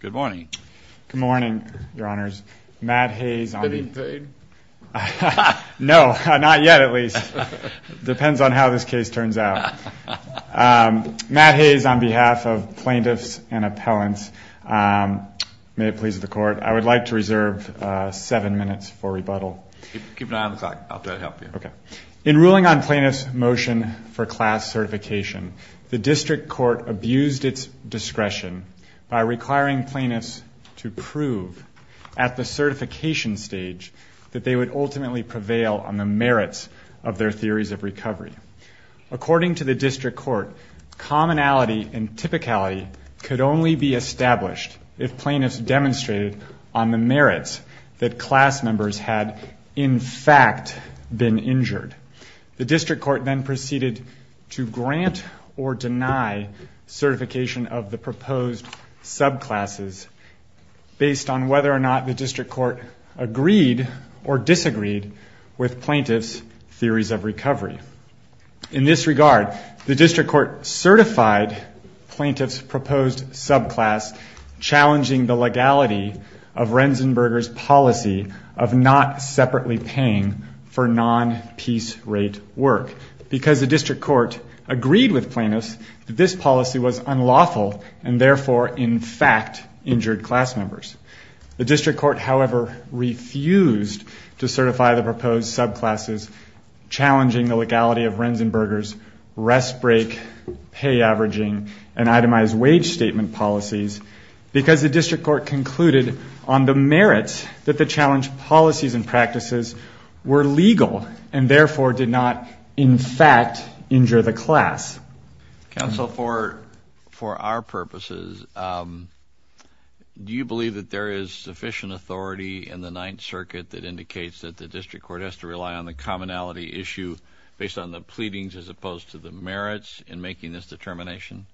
Good morning. Good morning, Your Honors. Matt Hayes on behalf of plaintiffs and appellants. May it please the Court, I would like to reserve seven minutes for rebuttal. Keep an eye on the clock. I'll try to help you. In ruling on plaintiffs' motion for class certification, the District Court abused its discretion by requiring plaintiffs to prove at the certification stage that they would ultimately prevail on the merits of their theories of recovery. According to the District Court, commonality and typicality could only be established if plaintiffs demonstrated on the merits that class members had in fact been injured. The District Court then proceeded to grant or deny certification of the proposed subclasses based on whether or not the District Court agreed or disagreed with plaintiffs' theories of recovery. In this regard, the District Court certified plaintiffs' proposed subclass, challenging the legality of Renzenberger's policy of not separately paying for non-peace rate work because the District Court agreed with plaintiffs that this policy was unlawful and therefore, in fact, injured class members. The District Court, however, refused to certify the proposed subclasses, challenging the legality of Renzenberger's rest break, pay averaging, and itemized wage statement policies because the District Court concluded on the merits that the challenged policies and practices were legal and therefore did not, in fact, injure the class. Counsel, for our purposes, do you believe that there is sufficient authority in the Ninth Circuit that indicates that the District Court has to rely on the commonality issue based on the pleadings as opposed to the merits in making this determination?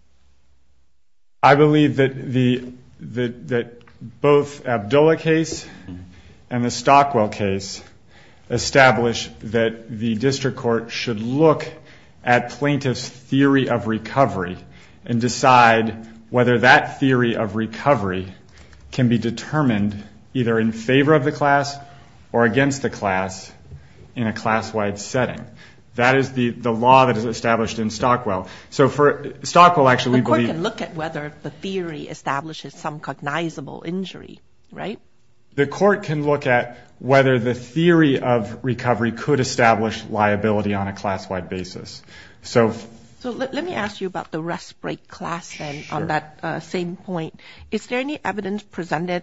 I believe that both Abdulla case and the Stockwell case establish that the District Court should look at plaintiffs' theory of recovery and decide whether that theory of recovery can be determined either in favor of the class or against the class in a class-wide setting. That is the law that is established in Stockwell. The court can look at whether the theory establishes some cognizable injury, right? The court can look at whether the theory of recovery could establish liability on a class-wide basis. Let me ask you about the rest break class then on that same point. Is there any evidence presented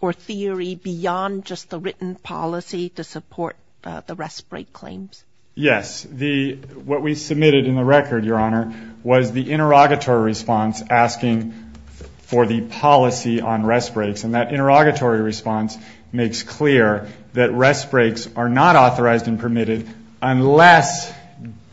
or theory beyond just the written policy to support the rest break claims? Yes. What we submitted in the record, Your Honor, was the interrogatory response asking for the policy on rest breaks. And that interrogatory response makes clear that rest breaks are not authorized and permitted unless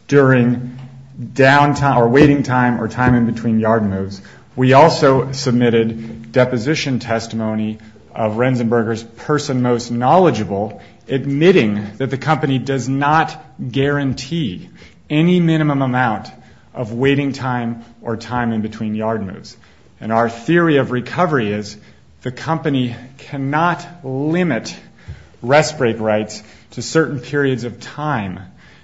during downtime or waiting time or time in between yard moves. We also submitted deposition testimony of Rensenberger's person most knowledgeable admitting that the company does not guarantee any minimum amount of waiting time or time in between yard moves. And our theory of recovery is the company cannot limit rest break rights to certain periods of time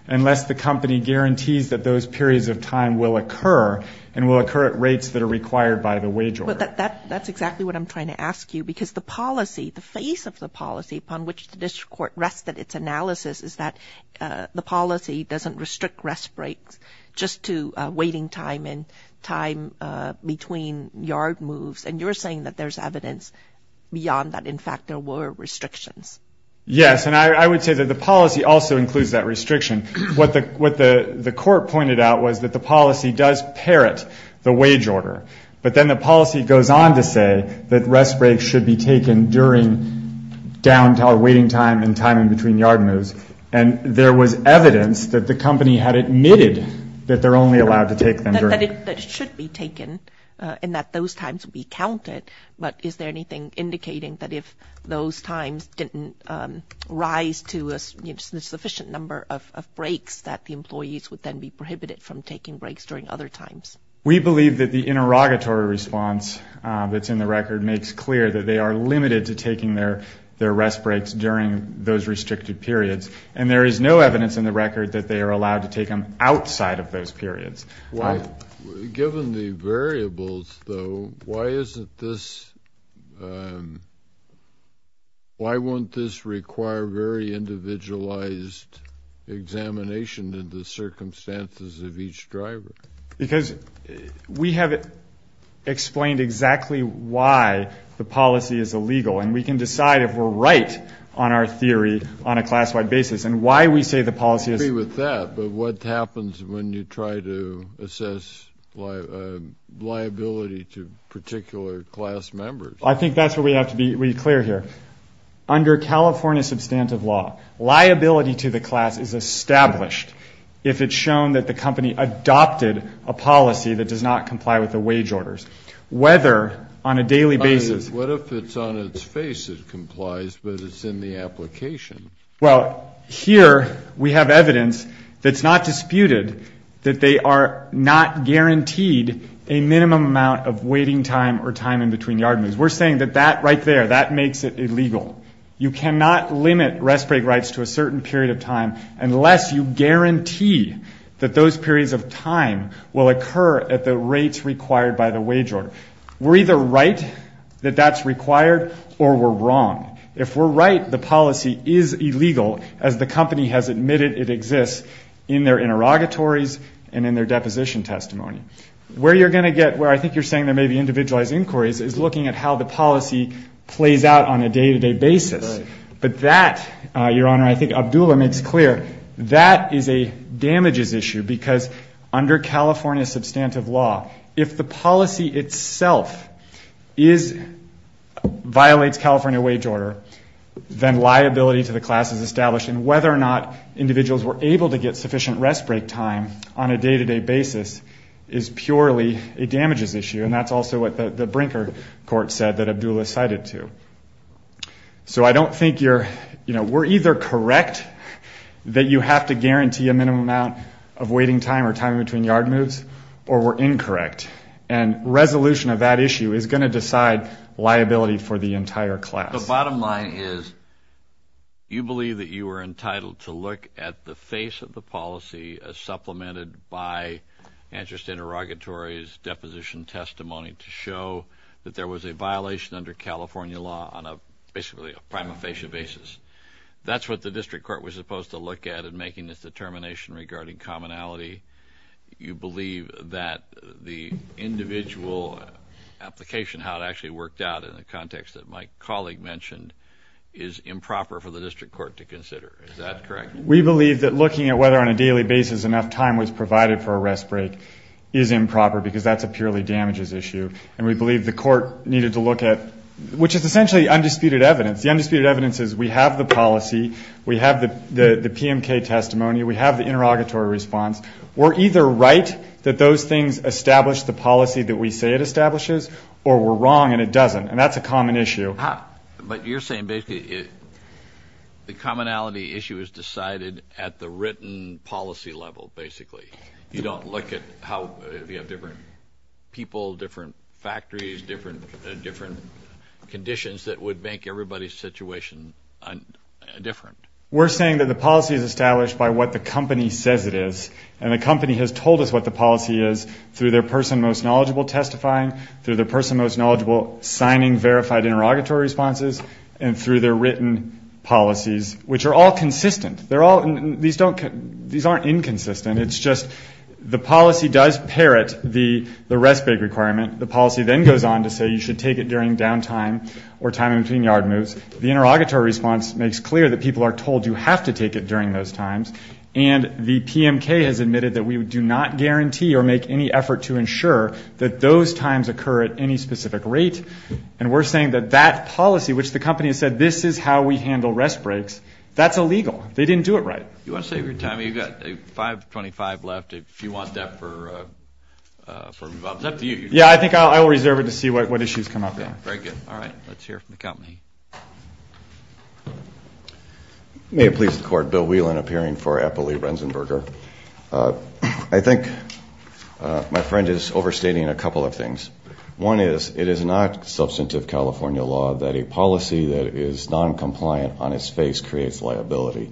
unless the company guarantees that those periods of time will occur and will occur at rates that are required by the wage order. That's exactly what I'm trying to ask you because the policy, the face of the policy upon which the district court rested its analysis is that the policy doesn't restrict rest breaks just to waiting time and time between yard moves. And you're saying that there's evidence beyond that. In fact, there were restrictions. Yes, and I would say that the policy also includes that restriction. What the court pointed out was that the policy does parrot the wage order, but then the policy goes on to say that rest breaks should be taken during downtime or waiting time and time in between yard moves. And there was evidence that the company had admitted that they're only allowed to take them during. That it should be taken and that those times would be counted, but is there anything indicating that if those times didn't rise to a sufficient number of breaks that the employees would then be prohibited from taking breaks during other times? We believe that the interrogatory response that's in the record makes clear that they are limited to taking their rest breaks during those restricted periods, and there is no evidence in the record that they are allowed to take them outside of those periods. Given the variables, though, why isn't this why won't this require very individualized examination in the circumstances of each driver? Because we have explained exactly why the policy is illegal, and we can decide if we're right on our theory on a class-wide basis and why we say the policy is. I agree with that, but what happens when you try to assess liability to particular class members? I think that's where we have to be clear here. Under California substantive law, liability to the class is established if it's shown that the company adopted a policy that does not comply with the wage orders. Whether on a daily basis. What if it's on its face it complies, but it's in the application? Well, here we have evidence that's not disputed, that they are not guaranteed a minimum amount of waiting time or time in between yard moves. We're saying that that right there, that makes it illegal. You cannot limit rest break rights to a certain period of time unless you guarantee that those periods of time will occur at the rates required by the wage order. We're either right that that's required or we're wrong. If we're right, the policy is illegal as the company has admitted it exists in their interrogatories and in their deposition testimony. Where you're going to get where I think you're saying there may be individualized inquiries is looking at how the policy plays out on a day-to-day basis. But that, Your Honor, I think Abdullah makes clear, that is a damages issue because under California substantive law, if the policy itself violates California wage order, then liability to the class is established. And whether or not individuals were able to get sufficient rest break time on a day-to-day basis is purely a damages issue. And that's also what the Brinker court said that Abdullah cited too. So I don't think you're, you know, we're either correct that you have to guarantee a minimum amount of waiting time or time between yard moves or we're incorrect. And resolution of that issue is going to decide liability for the entire class. The bottom line is you believe that you are entitled to look at the face of the policy as supplemented by interest interrogatories, deposition testimony to show that there was a violation under California law on a basically a prima facie basis. That's what the district court was supposed to look at in making this determination regarding commonality. You believe that the individual application, how it actually worked out in the context that my colleague mentioned, is improper for the district court to consider. Is that correct? We believe that looking at whether on a daily basis enough time was provided for a rest break is improper because that's a purely damages issue. And we believe the court needed to look at, which is essentially undisputed evidence. The undisputed evidence is we have the policy, we have the PMK testimony, we have the interrogatory response. We're either right that those things establish the policy that we say it establishes or we're wrong and it doesn't. And that's a common issue. But you're saying basically the commonality issue is decided at the written policy level, basically. You don't look at how you have different people, different factories, different conditions that would make everybody's situation different. We're saying that the policy is established by what the company says it is. And the company has told us what the policy is through their person most knowledgeable testifying, through their person most knowledgeable signing verified interrogatory responses, and through their written policies, which are all consistent. These aren't inconsistent. It's just the policy does parrot the rest break requirement. The policy then goes on to say you should take it during down time or time in between yard moves. The interrogatory response makes clear that people are told you have to take it during those times. And the PMK has admitted that we do not guarantee or make any effort to ensure that those times occur at any specific rate. And we're saying that that policy, which the company has said this is how we handle rest breaks, that's illegal. They didn't do it right. You want to save your time? You've got 5.25 left if you want that. Yeah, I think I'll reserve it to see what issues come up. Very good. All right. Let's hear from the company. May it please the court, Bill Whelan appearing for Eppley-Renzenberger. I think my friend is overstating a couple of things. One is it is not substantive California law that a policy that is noncompliant on its face creates liability.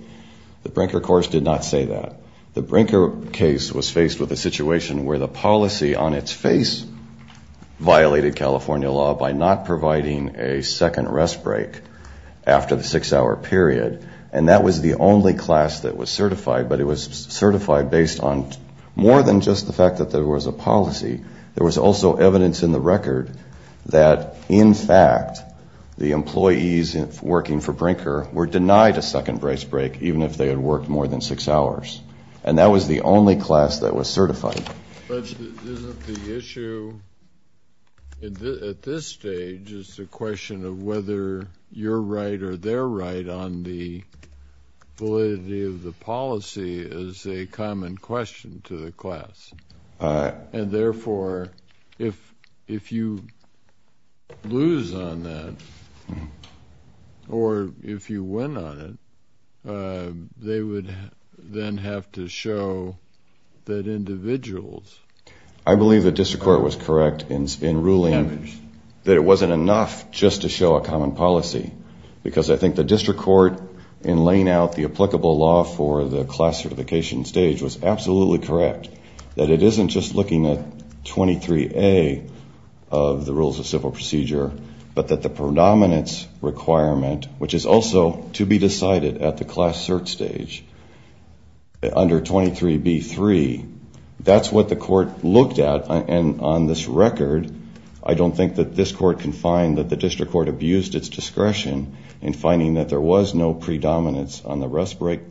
The Brinker course did not say that. The Brinker case was faced with a situation where the policy on its face violated California law by not providing a second rest break after the six-hour period. And that was the only class that was certified, but it was certified based on more than just the fact that there was a policy. There was also evidence in the record that, in fact, the employees working for Brinker were denied a second rest break, even if they had worked more than six hours. And that was the only class that was certified. But isn't the issue at this stage is the question of whether your right or their right on the validity of the policy is a common question to the class? And, therefore, if you lose on that, or if you win on it, they would then have to show that individuals. I believe the district court was correct in ruling that it wasn't enough just to show a common policy, because I think the district court, in laying out the applicable law for the class certification stage, was absolutely correct that it isn't just looking at 23A of the rules of civil procedure, but that the predominance requirement, which is also to be decided at the class cert stage, under 23B3, that's what the court looked at. And on this record, I don't think that this court can find that the district court abused its discretion in finding that there was no predominance on the rest break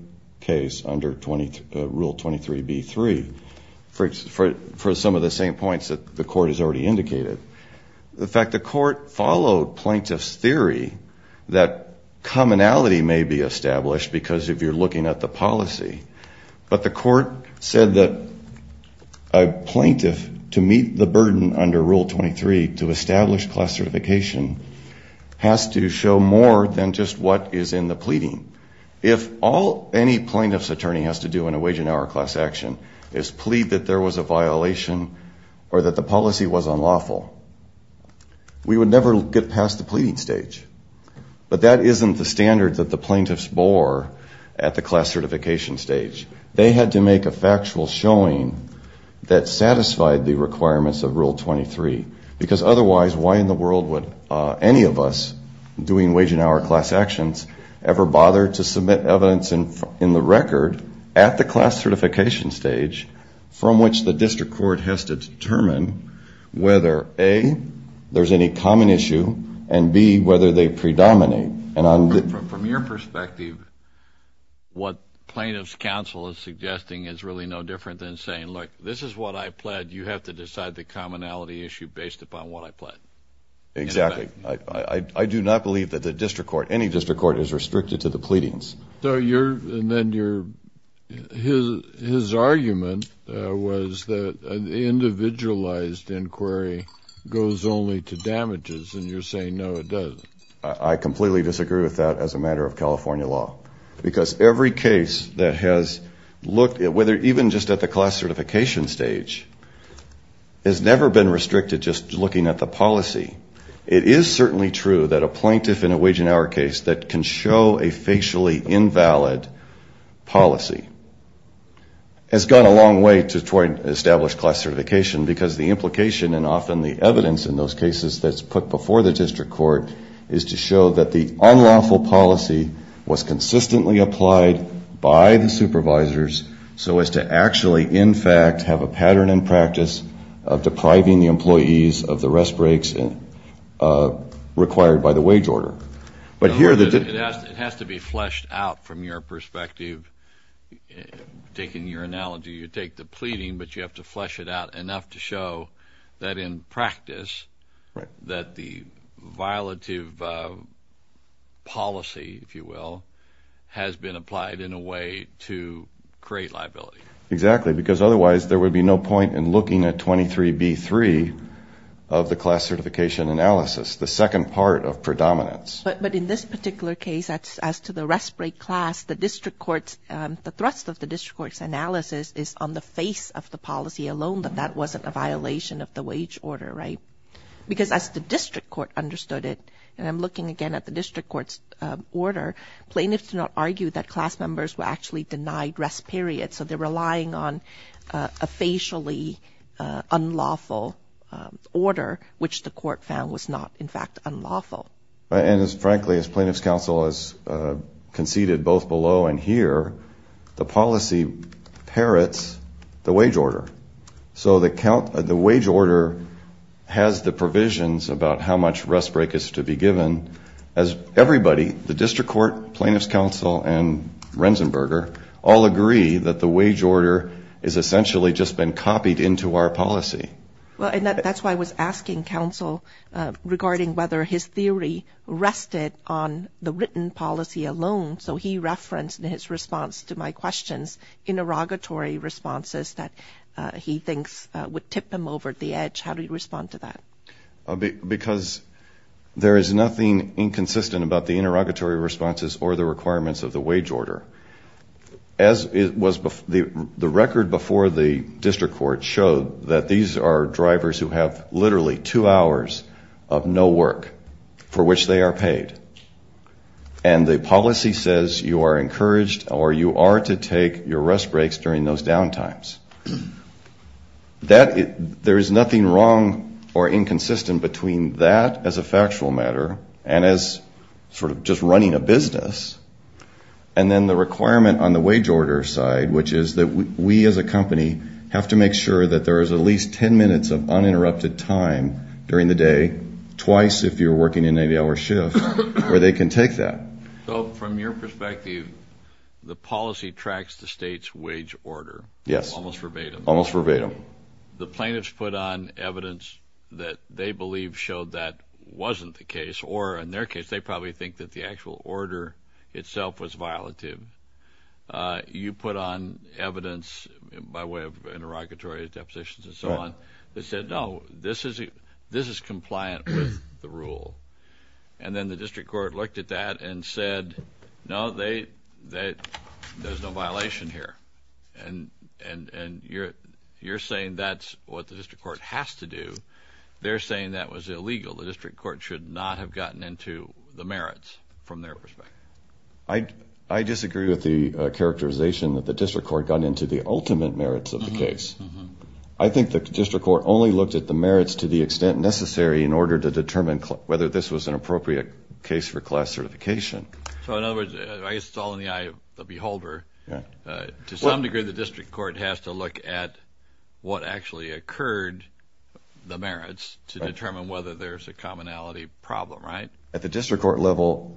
case under Rule 23B3, for some of the same points that the court has already indicated. In fact, the court followed plaintiff's theory that commonality may be established, because if you're looking at the policy. But the court said that a plaintiff, to meet the burden under Rule 23, to establish class certification, has to show more than just what is in the pleading. If all any plaintiff's attorney has to do in a wage and hour class action is plead that there was a violation or that the policy was unlawful, we would never get past the pleading stage. But that isn't the standard that the plaintiffs bore at the class certification stage. They had to make a factual showing that satisfied the requirements of Rule 23. Because otherwise, why in the world would any of us doing wage and hour class actions ever bother to submit evidence in the record at the class certification stage from which the district court has to determine whether, A, there's any common issue, and, B, whether they predominate. From your perspective, what plaintiff's counsel is suggesting is really no different than saying, look, this is what I pled. You have to decide the commonality issue based upon what I pled. Exactly. I do not believe that the district court, any district court, is restricted to the pleadings. His argument was that an individualized inquiry goes only to damages, and you're saying, no, it doesn't. I completely disagree with that as a matter of California law. Because every case that has looked at whether even just at the class certification stage has never been restricted just looking at the policy. It is certainly true that a plaintiff in a wage and hour case that can show a facially invalid policy has gone a long way toward established class certification because the implication and often the evidence in those cases that's put before the district court is to show that the unlawful policy was consistently applied by the supervisors so as to actually, in fact, have a pattern and practice of depriving the employees of the rest breaks required by the wage order. It has to be fleshed out from your perspective. Taking your analogy, you take the pleading, but you have to flesh it out enough to show that in practice that the violative policy, if you will, has been applied in a way to create liability. Exactly, because otherwise there would be no point in looking at 23b-3 of the class certification analysis, the second part of predominance. But in this particular case, as to the rest break class, the thrust of the district court's analysis is on the face of the policy alone that that wasn't a violation of the wage order, right? Because as the district court understood it, and I'm looking again at the district court's order, plaintiffs do not argue that class members were actually denied rest periods, so they're relying on a facially unlawful order, which the court found was not, in fact, unlawful. And frankly, as plaintiffs' counsel has conceded both below and here, the policy parrots the wage order. So the wage order has the provisions about how much rest break is to be given, as everybody, the district court, plaintiffs' counsel, and Renzenberger, all agree that the wage order has essentially just been copied into our policy. Well, and that's why I was asking counsel regarding whether his theory rested on the written policy alone. So he referenced in his response to my questions interrogatory responses that he thinks would tip him over the edge. How do you respond to that? Because there is nothing inconsistent about the interrogatory responses or the requirements of the wage order. As the record before the district court showed, that these are drivers who have literally two hours of no work for which they are paid, and the policy says you are encouraged or you are to take your rest breaks during those downtimes. There is nothing wrong or inconsistent between that as a factual matter and as sort of just running a business, and then the requirement on the wage order side, which is that we as a company have to make sure that there is at least 10 minutes of uninterrupted time during the day, twice if you're working an 80-hour shift, where they can take that. So from your perspective, the policy tracks the state's wage order. Yes. Almost verbatim. Almost verbatim. The plaintiffs put on evidence that they believe showed that wasn't the case, or in their case they probably think that the actual order itself was violative. You put on evidence by way of interrogatory depositions and so on that said, no, this is compliant with the rule, and then the district court looked at that and said, no, there's no violation here, and you're saying that's what the district court has to do. They're saying that was illegal. The district court should not have gotten into the merits from their perspective. I disagree with the characterization that the district court got into the ultimate merits of the case. I think the district court only looked at the merits to the extent necessary in order to determine whether this was an appropriate case for class certification. So in other words, I guess it's all in the eye of the beholder. To some degree, the district court has to look at what actually occurred, the merits, to determine whether there's a commonality problem, right? At the district court level,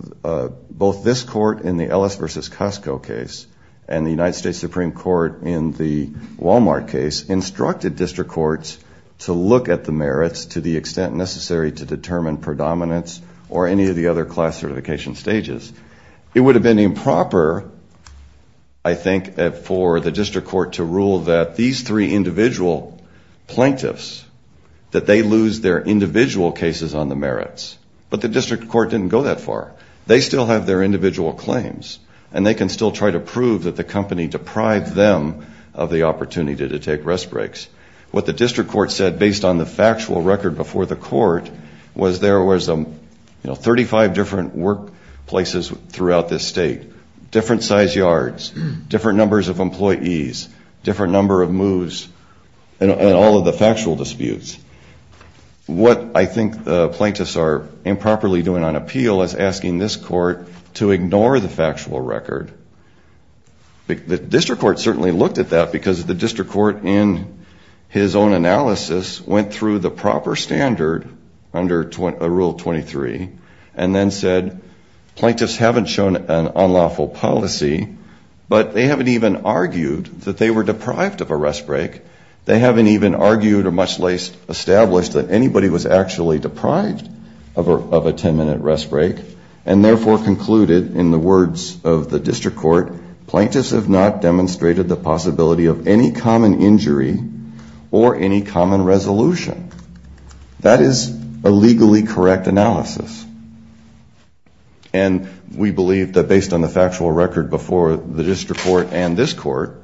both this court in the Ellis versus Costco case and the United States Supreme Court in the Walmart case instructed district courts to look at the merits to the extent necessary to determine predominance or any of the other class certification stages. It would have been improper, I think, for the district court to rule that these three individual plaintiffs, that they lose their individual cases on the merits. But the district court didn't go that far. They still have their individual claims, and they can still try to prove that the company deprived them of the opportunity to take rest breaks. What the district court said based on the factual record before the court was there was, you know, 35 different workplaces throughout this state, different size yards, different numbers of employees, different number of moves, and all of the factual disputes. What I think the plaintiffs are improperly doing on appeal is asking this court to ignore the factual record. The district court certainly looked at that because the district court, in his own analysis, went through the proper standard under Rule 23 and then said, Plaintiffs haven't shown an unlawful policy, but they haven't even argued that they were deprived of a rest break. They haven't even argued or much less established that anybody was actually deprived of a 10-minute rest break and therefore concluded in the words of the district court, Plaintiffs have not demonstrated the possibility of any common injury or any common resolution. That is a legally correct analysis. And we believe that based on the factual record before the district court and this court,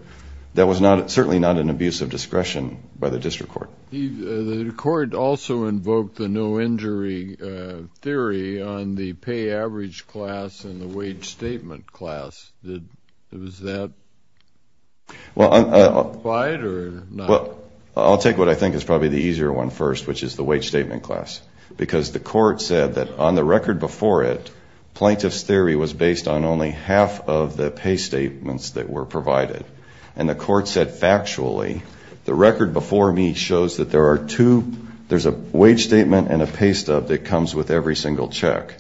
that was certainly not an abuse of discretion by the district court. The court also invoked the no injury theory on the pay average class and the wage statement class. Was that right or not? Well, I'll take what I think is probably the easier one first, which is the wage statement class, because the court said that on the record before it, Plaintiff's theory was based on only half of the pay statements that were provided. And the court said factually, the record before me shows that there are two, there's a wage statement and a pay stub that comes with every single check.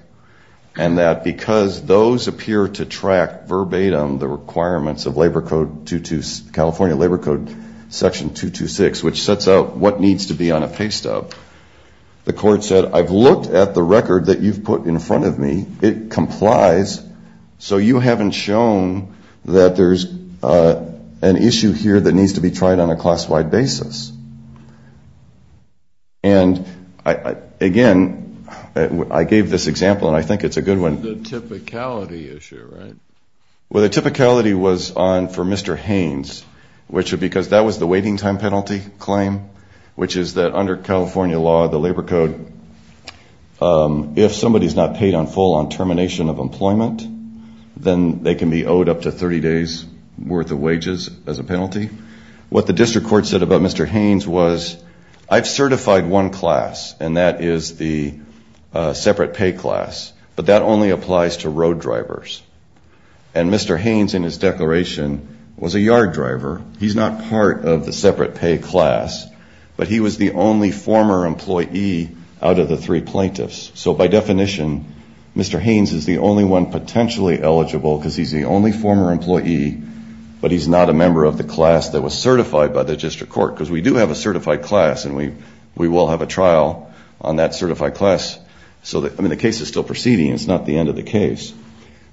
And that because those appear to track verbatim the requirements of California Labor Code Section 226, which sets out what needs to be on a pay stub, the court said, I've looked at the record that you've put in front of me, it complies, so you haven't shown that there's an issue here that needs to be tried on a class-wide basis. And, again, I gave this example, and I think it's a good one. The typicality issue, right? Well, the typicality was on for Mr. Haynes, which was because that was the waiting time penalty claim, which is that under California law, the Labor Code, if somebody's not paid on full on termination of employment, then they can be owed up to 30 days' worth of wages as a penalty. What the district court said about Mr. Haynes was, I've certified one class, and that is the separate pay class, but that only applies to road drivers. And Mr. Haynes, in his declaration, was a yard driver. He's not part of the separate pay class, but he was the only former employee out of the three plaintiffs. So, by definition, Mr. Haynes is the only one potentially eligible because he's the only former employee, but he's not a member of the class that was certified by the district court, because we do have a certified class, and we will have a trial on that certified class. I mean, the case is still proceeding. It's not the end of the case.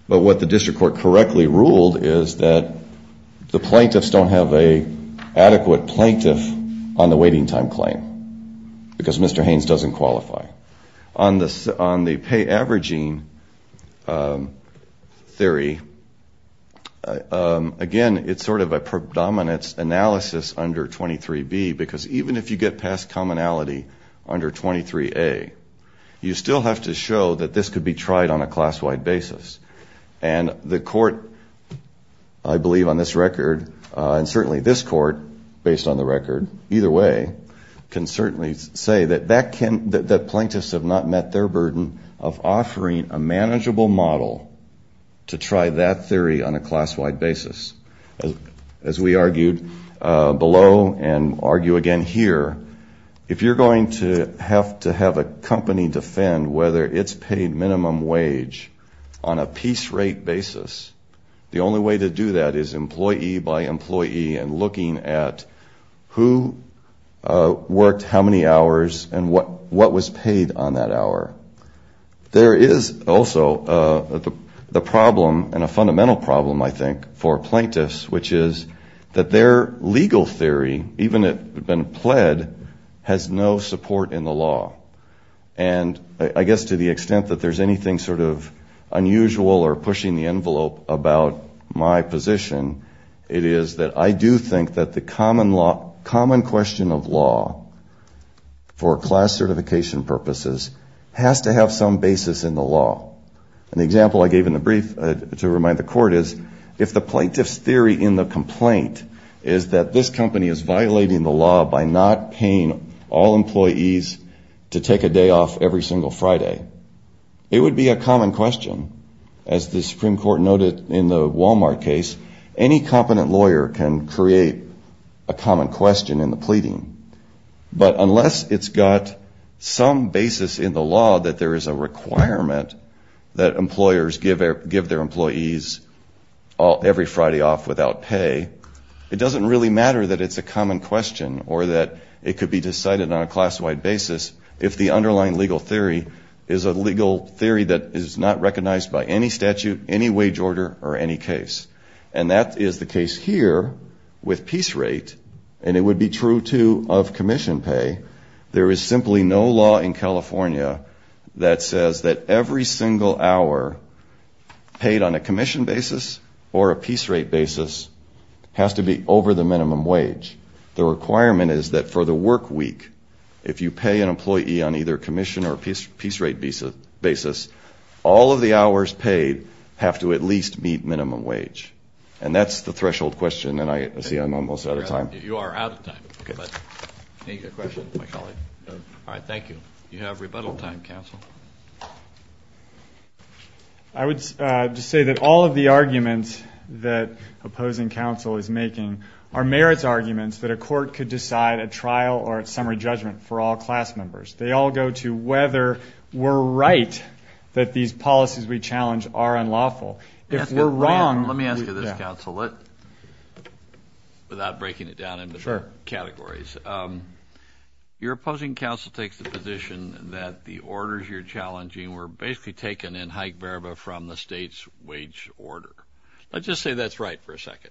But what the district court correctly ruled is that the plaintiffs don't have an adequate plaintiff on the waiting time claim because Mr. Haynes doesn't qualify. On the pay averaging theory, again, it's sort of a predominance analysis under 23B, because even if you get past commonality under 23A, you still have to show that this could be tried on a class-wide basis. And the court, I believe on this record, and certainly this court, based on the record, either way, can certainly say that the plaintiffs have not met their burden of offering a manageable model to try that theory on a class-wide basis. As we argued below and argue again here, if you're going to have to have a company defend whether it's paid minimum wage on a piece rate basis, the only way to do that is employee by employee and looking at who worked how many hours and what was paid on that hour. There is also the problem, and a fundamental problem, I think, for plaintiffs, which is that their legal theory, even if it had been pled, has no support in the law. And I guess to the extent that there's anything sort of unusual or pushing the envelope about my position, it is that I do think that the common question of law for class certification purposes has to have some basis in the law. And the example I gave in the brief to remind the court is, if the plaintiff's theory in the complaint is that this company is violating the law by not paying all employees to take a day off every single Friday, it would be a common question. As the Supreme Court noted in the Walmart case, any competent lawyer can create a common question in the pleading. But unless it's got some basis in the law that there is a requirement that employers give their employees every Friday off without pay, it doesn't really matter that it's a common question or that it could be decided on a class-wide basis if the underlying legal theory is a legal theory that is not recognized by any statute, any wage order, or any case. And that is the case here with piece rate, and it would be true, too, of commission pay. There is simply no law in California that says that every single hour paid on a commission basis or a piece rate basis has to be over the minimum wage. The requirement is that for the work week, if you pay an employee on either commission or piece rate basis, all of the hours paid have to at least meet minimum wage. And that's the threshold question, and I see I'm almost out of time. You are out of time. Any questions of my colleague? All right, thank you. You have rebuttal time, counsel. I would just say that all of the arguments that opposing counsel is making are merits arguments that a court could decide at trial or at summary judgment for all class members. They all go to whether we're right that these policies we challenge are unlawful. If we're wrong we're not. Let me ask you this, counsel, without breaking it down into categories. Your opposing counsel takes the position that the orders you're making or you're challenging were basically taken in high verba from the state's wage order. Let's just say that's right for a second.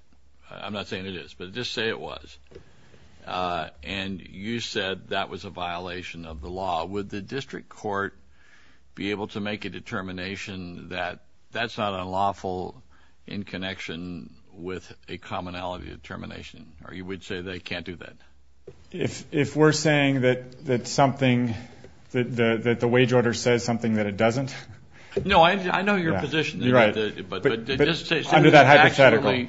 I'm not saying it is, but just say it was. And you said that was a violation of the law. Would the district court be able to make a determination that that's not unlawful in connection with a commonality determination, or you would say they can't do that? If we're saying that something, that the wage order says something that it doesn't? No, I know your position. Under that hypothetical.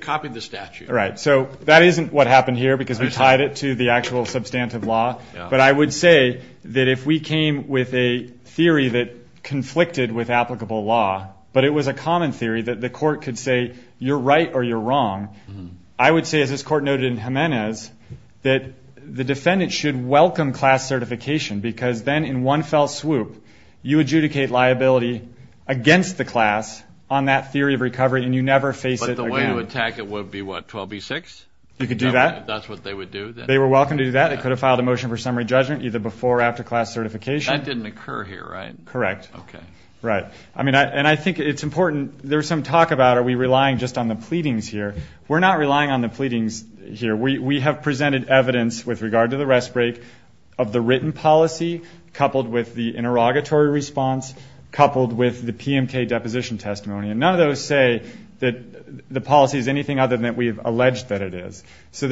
Copy the statute. Right, so that isn't what happened here because we tied it to the actual substantive law. But I would say that if we came with a theory that conflicted with applicable law, but it was a common theory that the court could say you're right or you're wrong, I would say, as this court noted in Jimenez, that the defendant should welcome class certification because then in one fell swoop you adjudicate liability against the class on that theory of recovery and you never face it again. But the way to attack it would be what, 12B6? You could do that. If that's what they would do. They were welcome to do that. They could have filed a motion for summary judgment either before or after class certification. That didn't occur here, right? Correct. Okay. Right. And I think it's important. There's some talk about are we relying just on the pleadings here. We're not relying on the pleadings here. We have presented evidence with regard to the rest break of the written policy coupled with the interrogatory response, coupled with the PMK deposition testimony. And none of those say that the policy is anything other than we've alleged that it is. So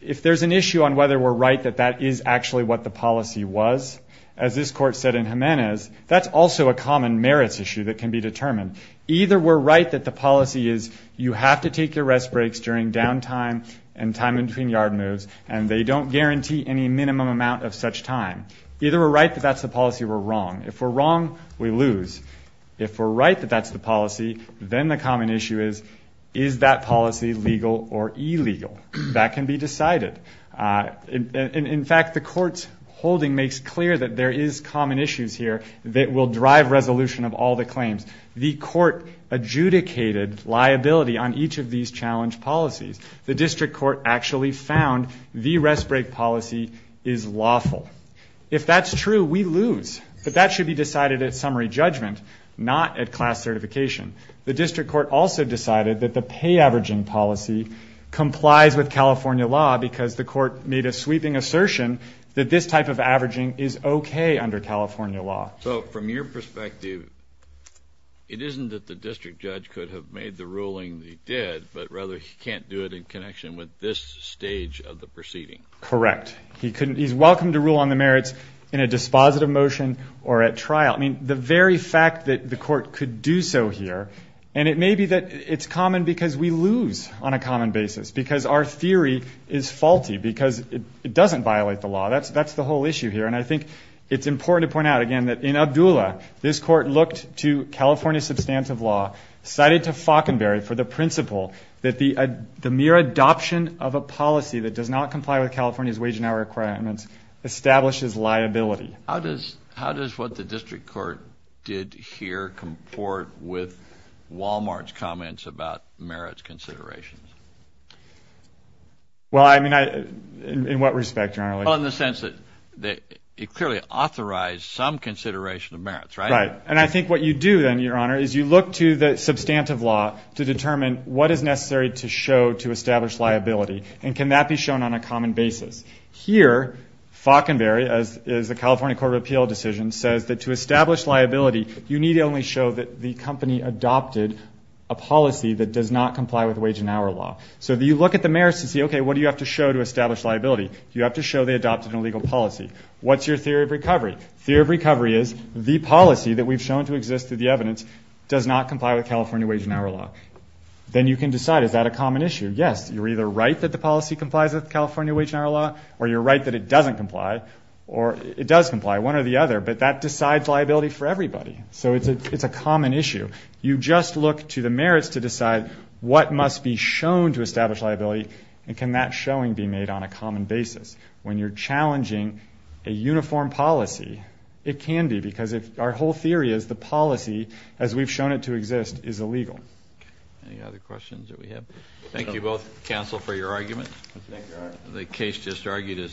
if there's an issue on whether we're right that that is actually what the policy was, as this court said in Jimenez, that's also a common merits issue that can be determined. Either we're right that the policy is you have to take your rest breaks during down time and time between yard moves, and they don't guarantee any minimum amount of such time. Either we're right that that's the policy or we're wrong. If we're wrong, we lose. If we're right that that's the policy, then the common issue is, is that policy legal or illegal? That can be decided. In fact, the court's holding makes clear that there is common issues here that will drive resolution of all the claims. The court adjudicated liability on each of these challenge policies. The district court actually found the rest break policy is lawful. If that's true, we lose. But that should be decided at summary judgment, not at class certification. The district court also decided that the pay averaging policy complies with California law because the court made a sweeping assertion that this type of averaging is okay under California law. So from your perspective, it isn't that the district judge could have made the ruling that he did, but rather he can't do it in connection with this stage of the proceeding. Correct. He's welcome to rule on the merits in a dispositive motion or at trial. I mean, the very fact that the court could do so here, and it may be that it's common because we lose on a common basis, because our theory is faulty, because it doesn't violate the law. That's the whole issue here. And I think it's important to point out, again, that in Abdullah, this court looked to California substantive law, cited to Faulconberry for the principle that the mere adoption of a policy that does not comply with California's wage and hour requirements establishes liability. How does what the district court did here comport with Wal-Mart's comments about merits considerations? Well, I mean, in what respect, General? Well, in the sense that it clearly authorized some consideration of merits, right? Right. And I think what you do then, Your Honor, is you look to the substantive law to determine what is necessary to show to establish liability, and can that be shown on a common basis. Here, Faulconberry, as is the California Court of Appeal decision, says that to establish liability, you need only show that the company adopted a policy that does not comply with wage and hour law. So you look at the merits and say, okay, what do you have to show to establish liability? You have to show they adopted an illegal policy. What's your theory of recovery? Theory of recovery is the policy that we've shown to exist through the evidence does not comply with California wage and hour law. Then you can decide, is that a common issue? Yes, you're either right that the policy complies with California wage and hour law, or you're right that it doesn't comply, or it does comply, one or the other, but that decides liability for everybody. So it's a common issue. You just look to the merits to decide what must be shown to establish liability, and can that showing be made on a common basis. When you're challenging a uniform policy, it can be, because our whole theory is the policy as we've shown it to exist is illegal. Any other questions that we have? Thank you both, counsel, for your arguments. The case just argued is submitted.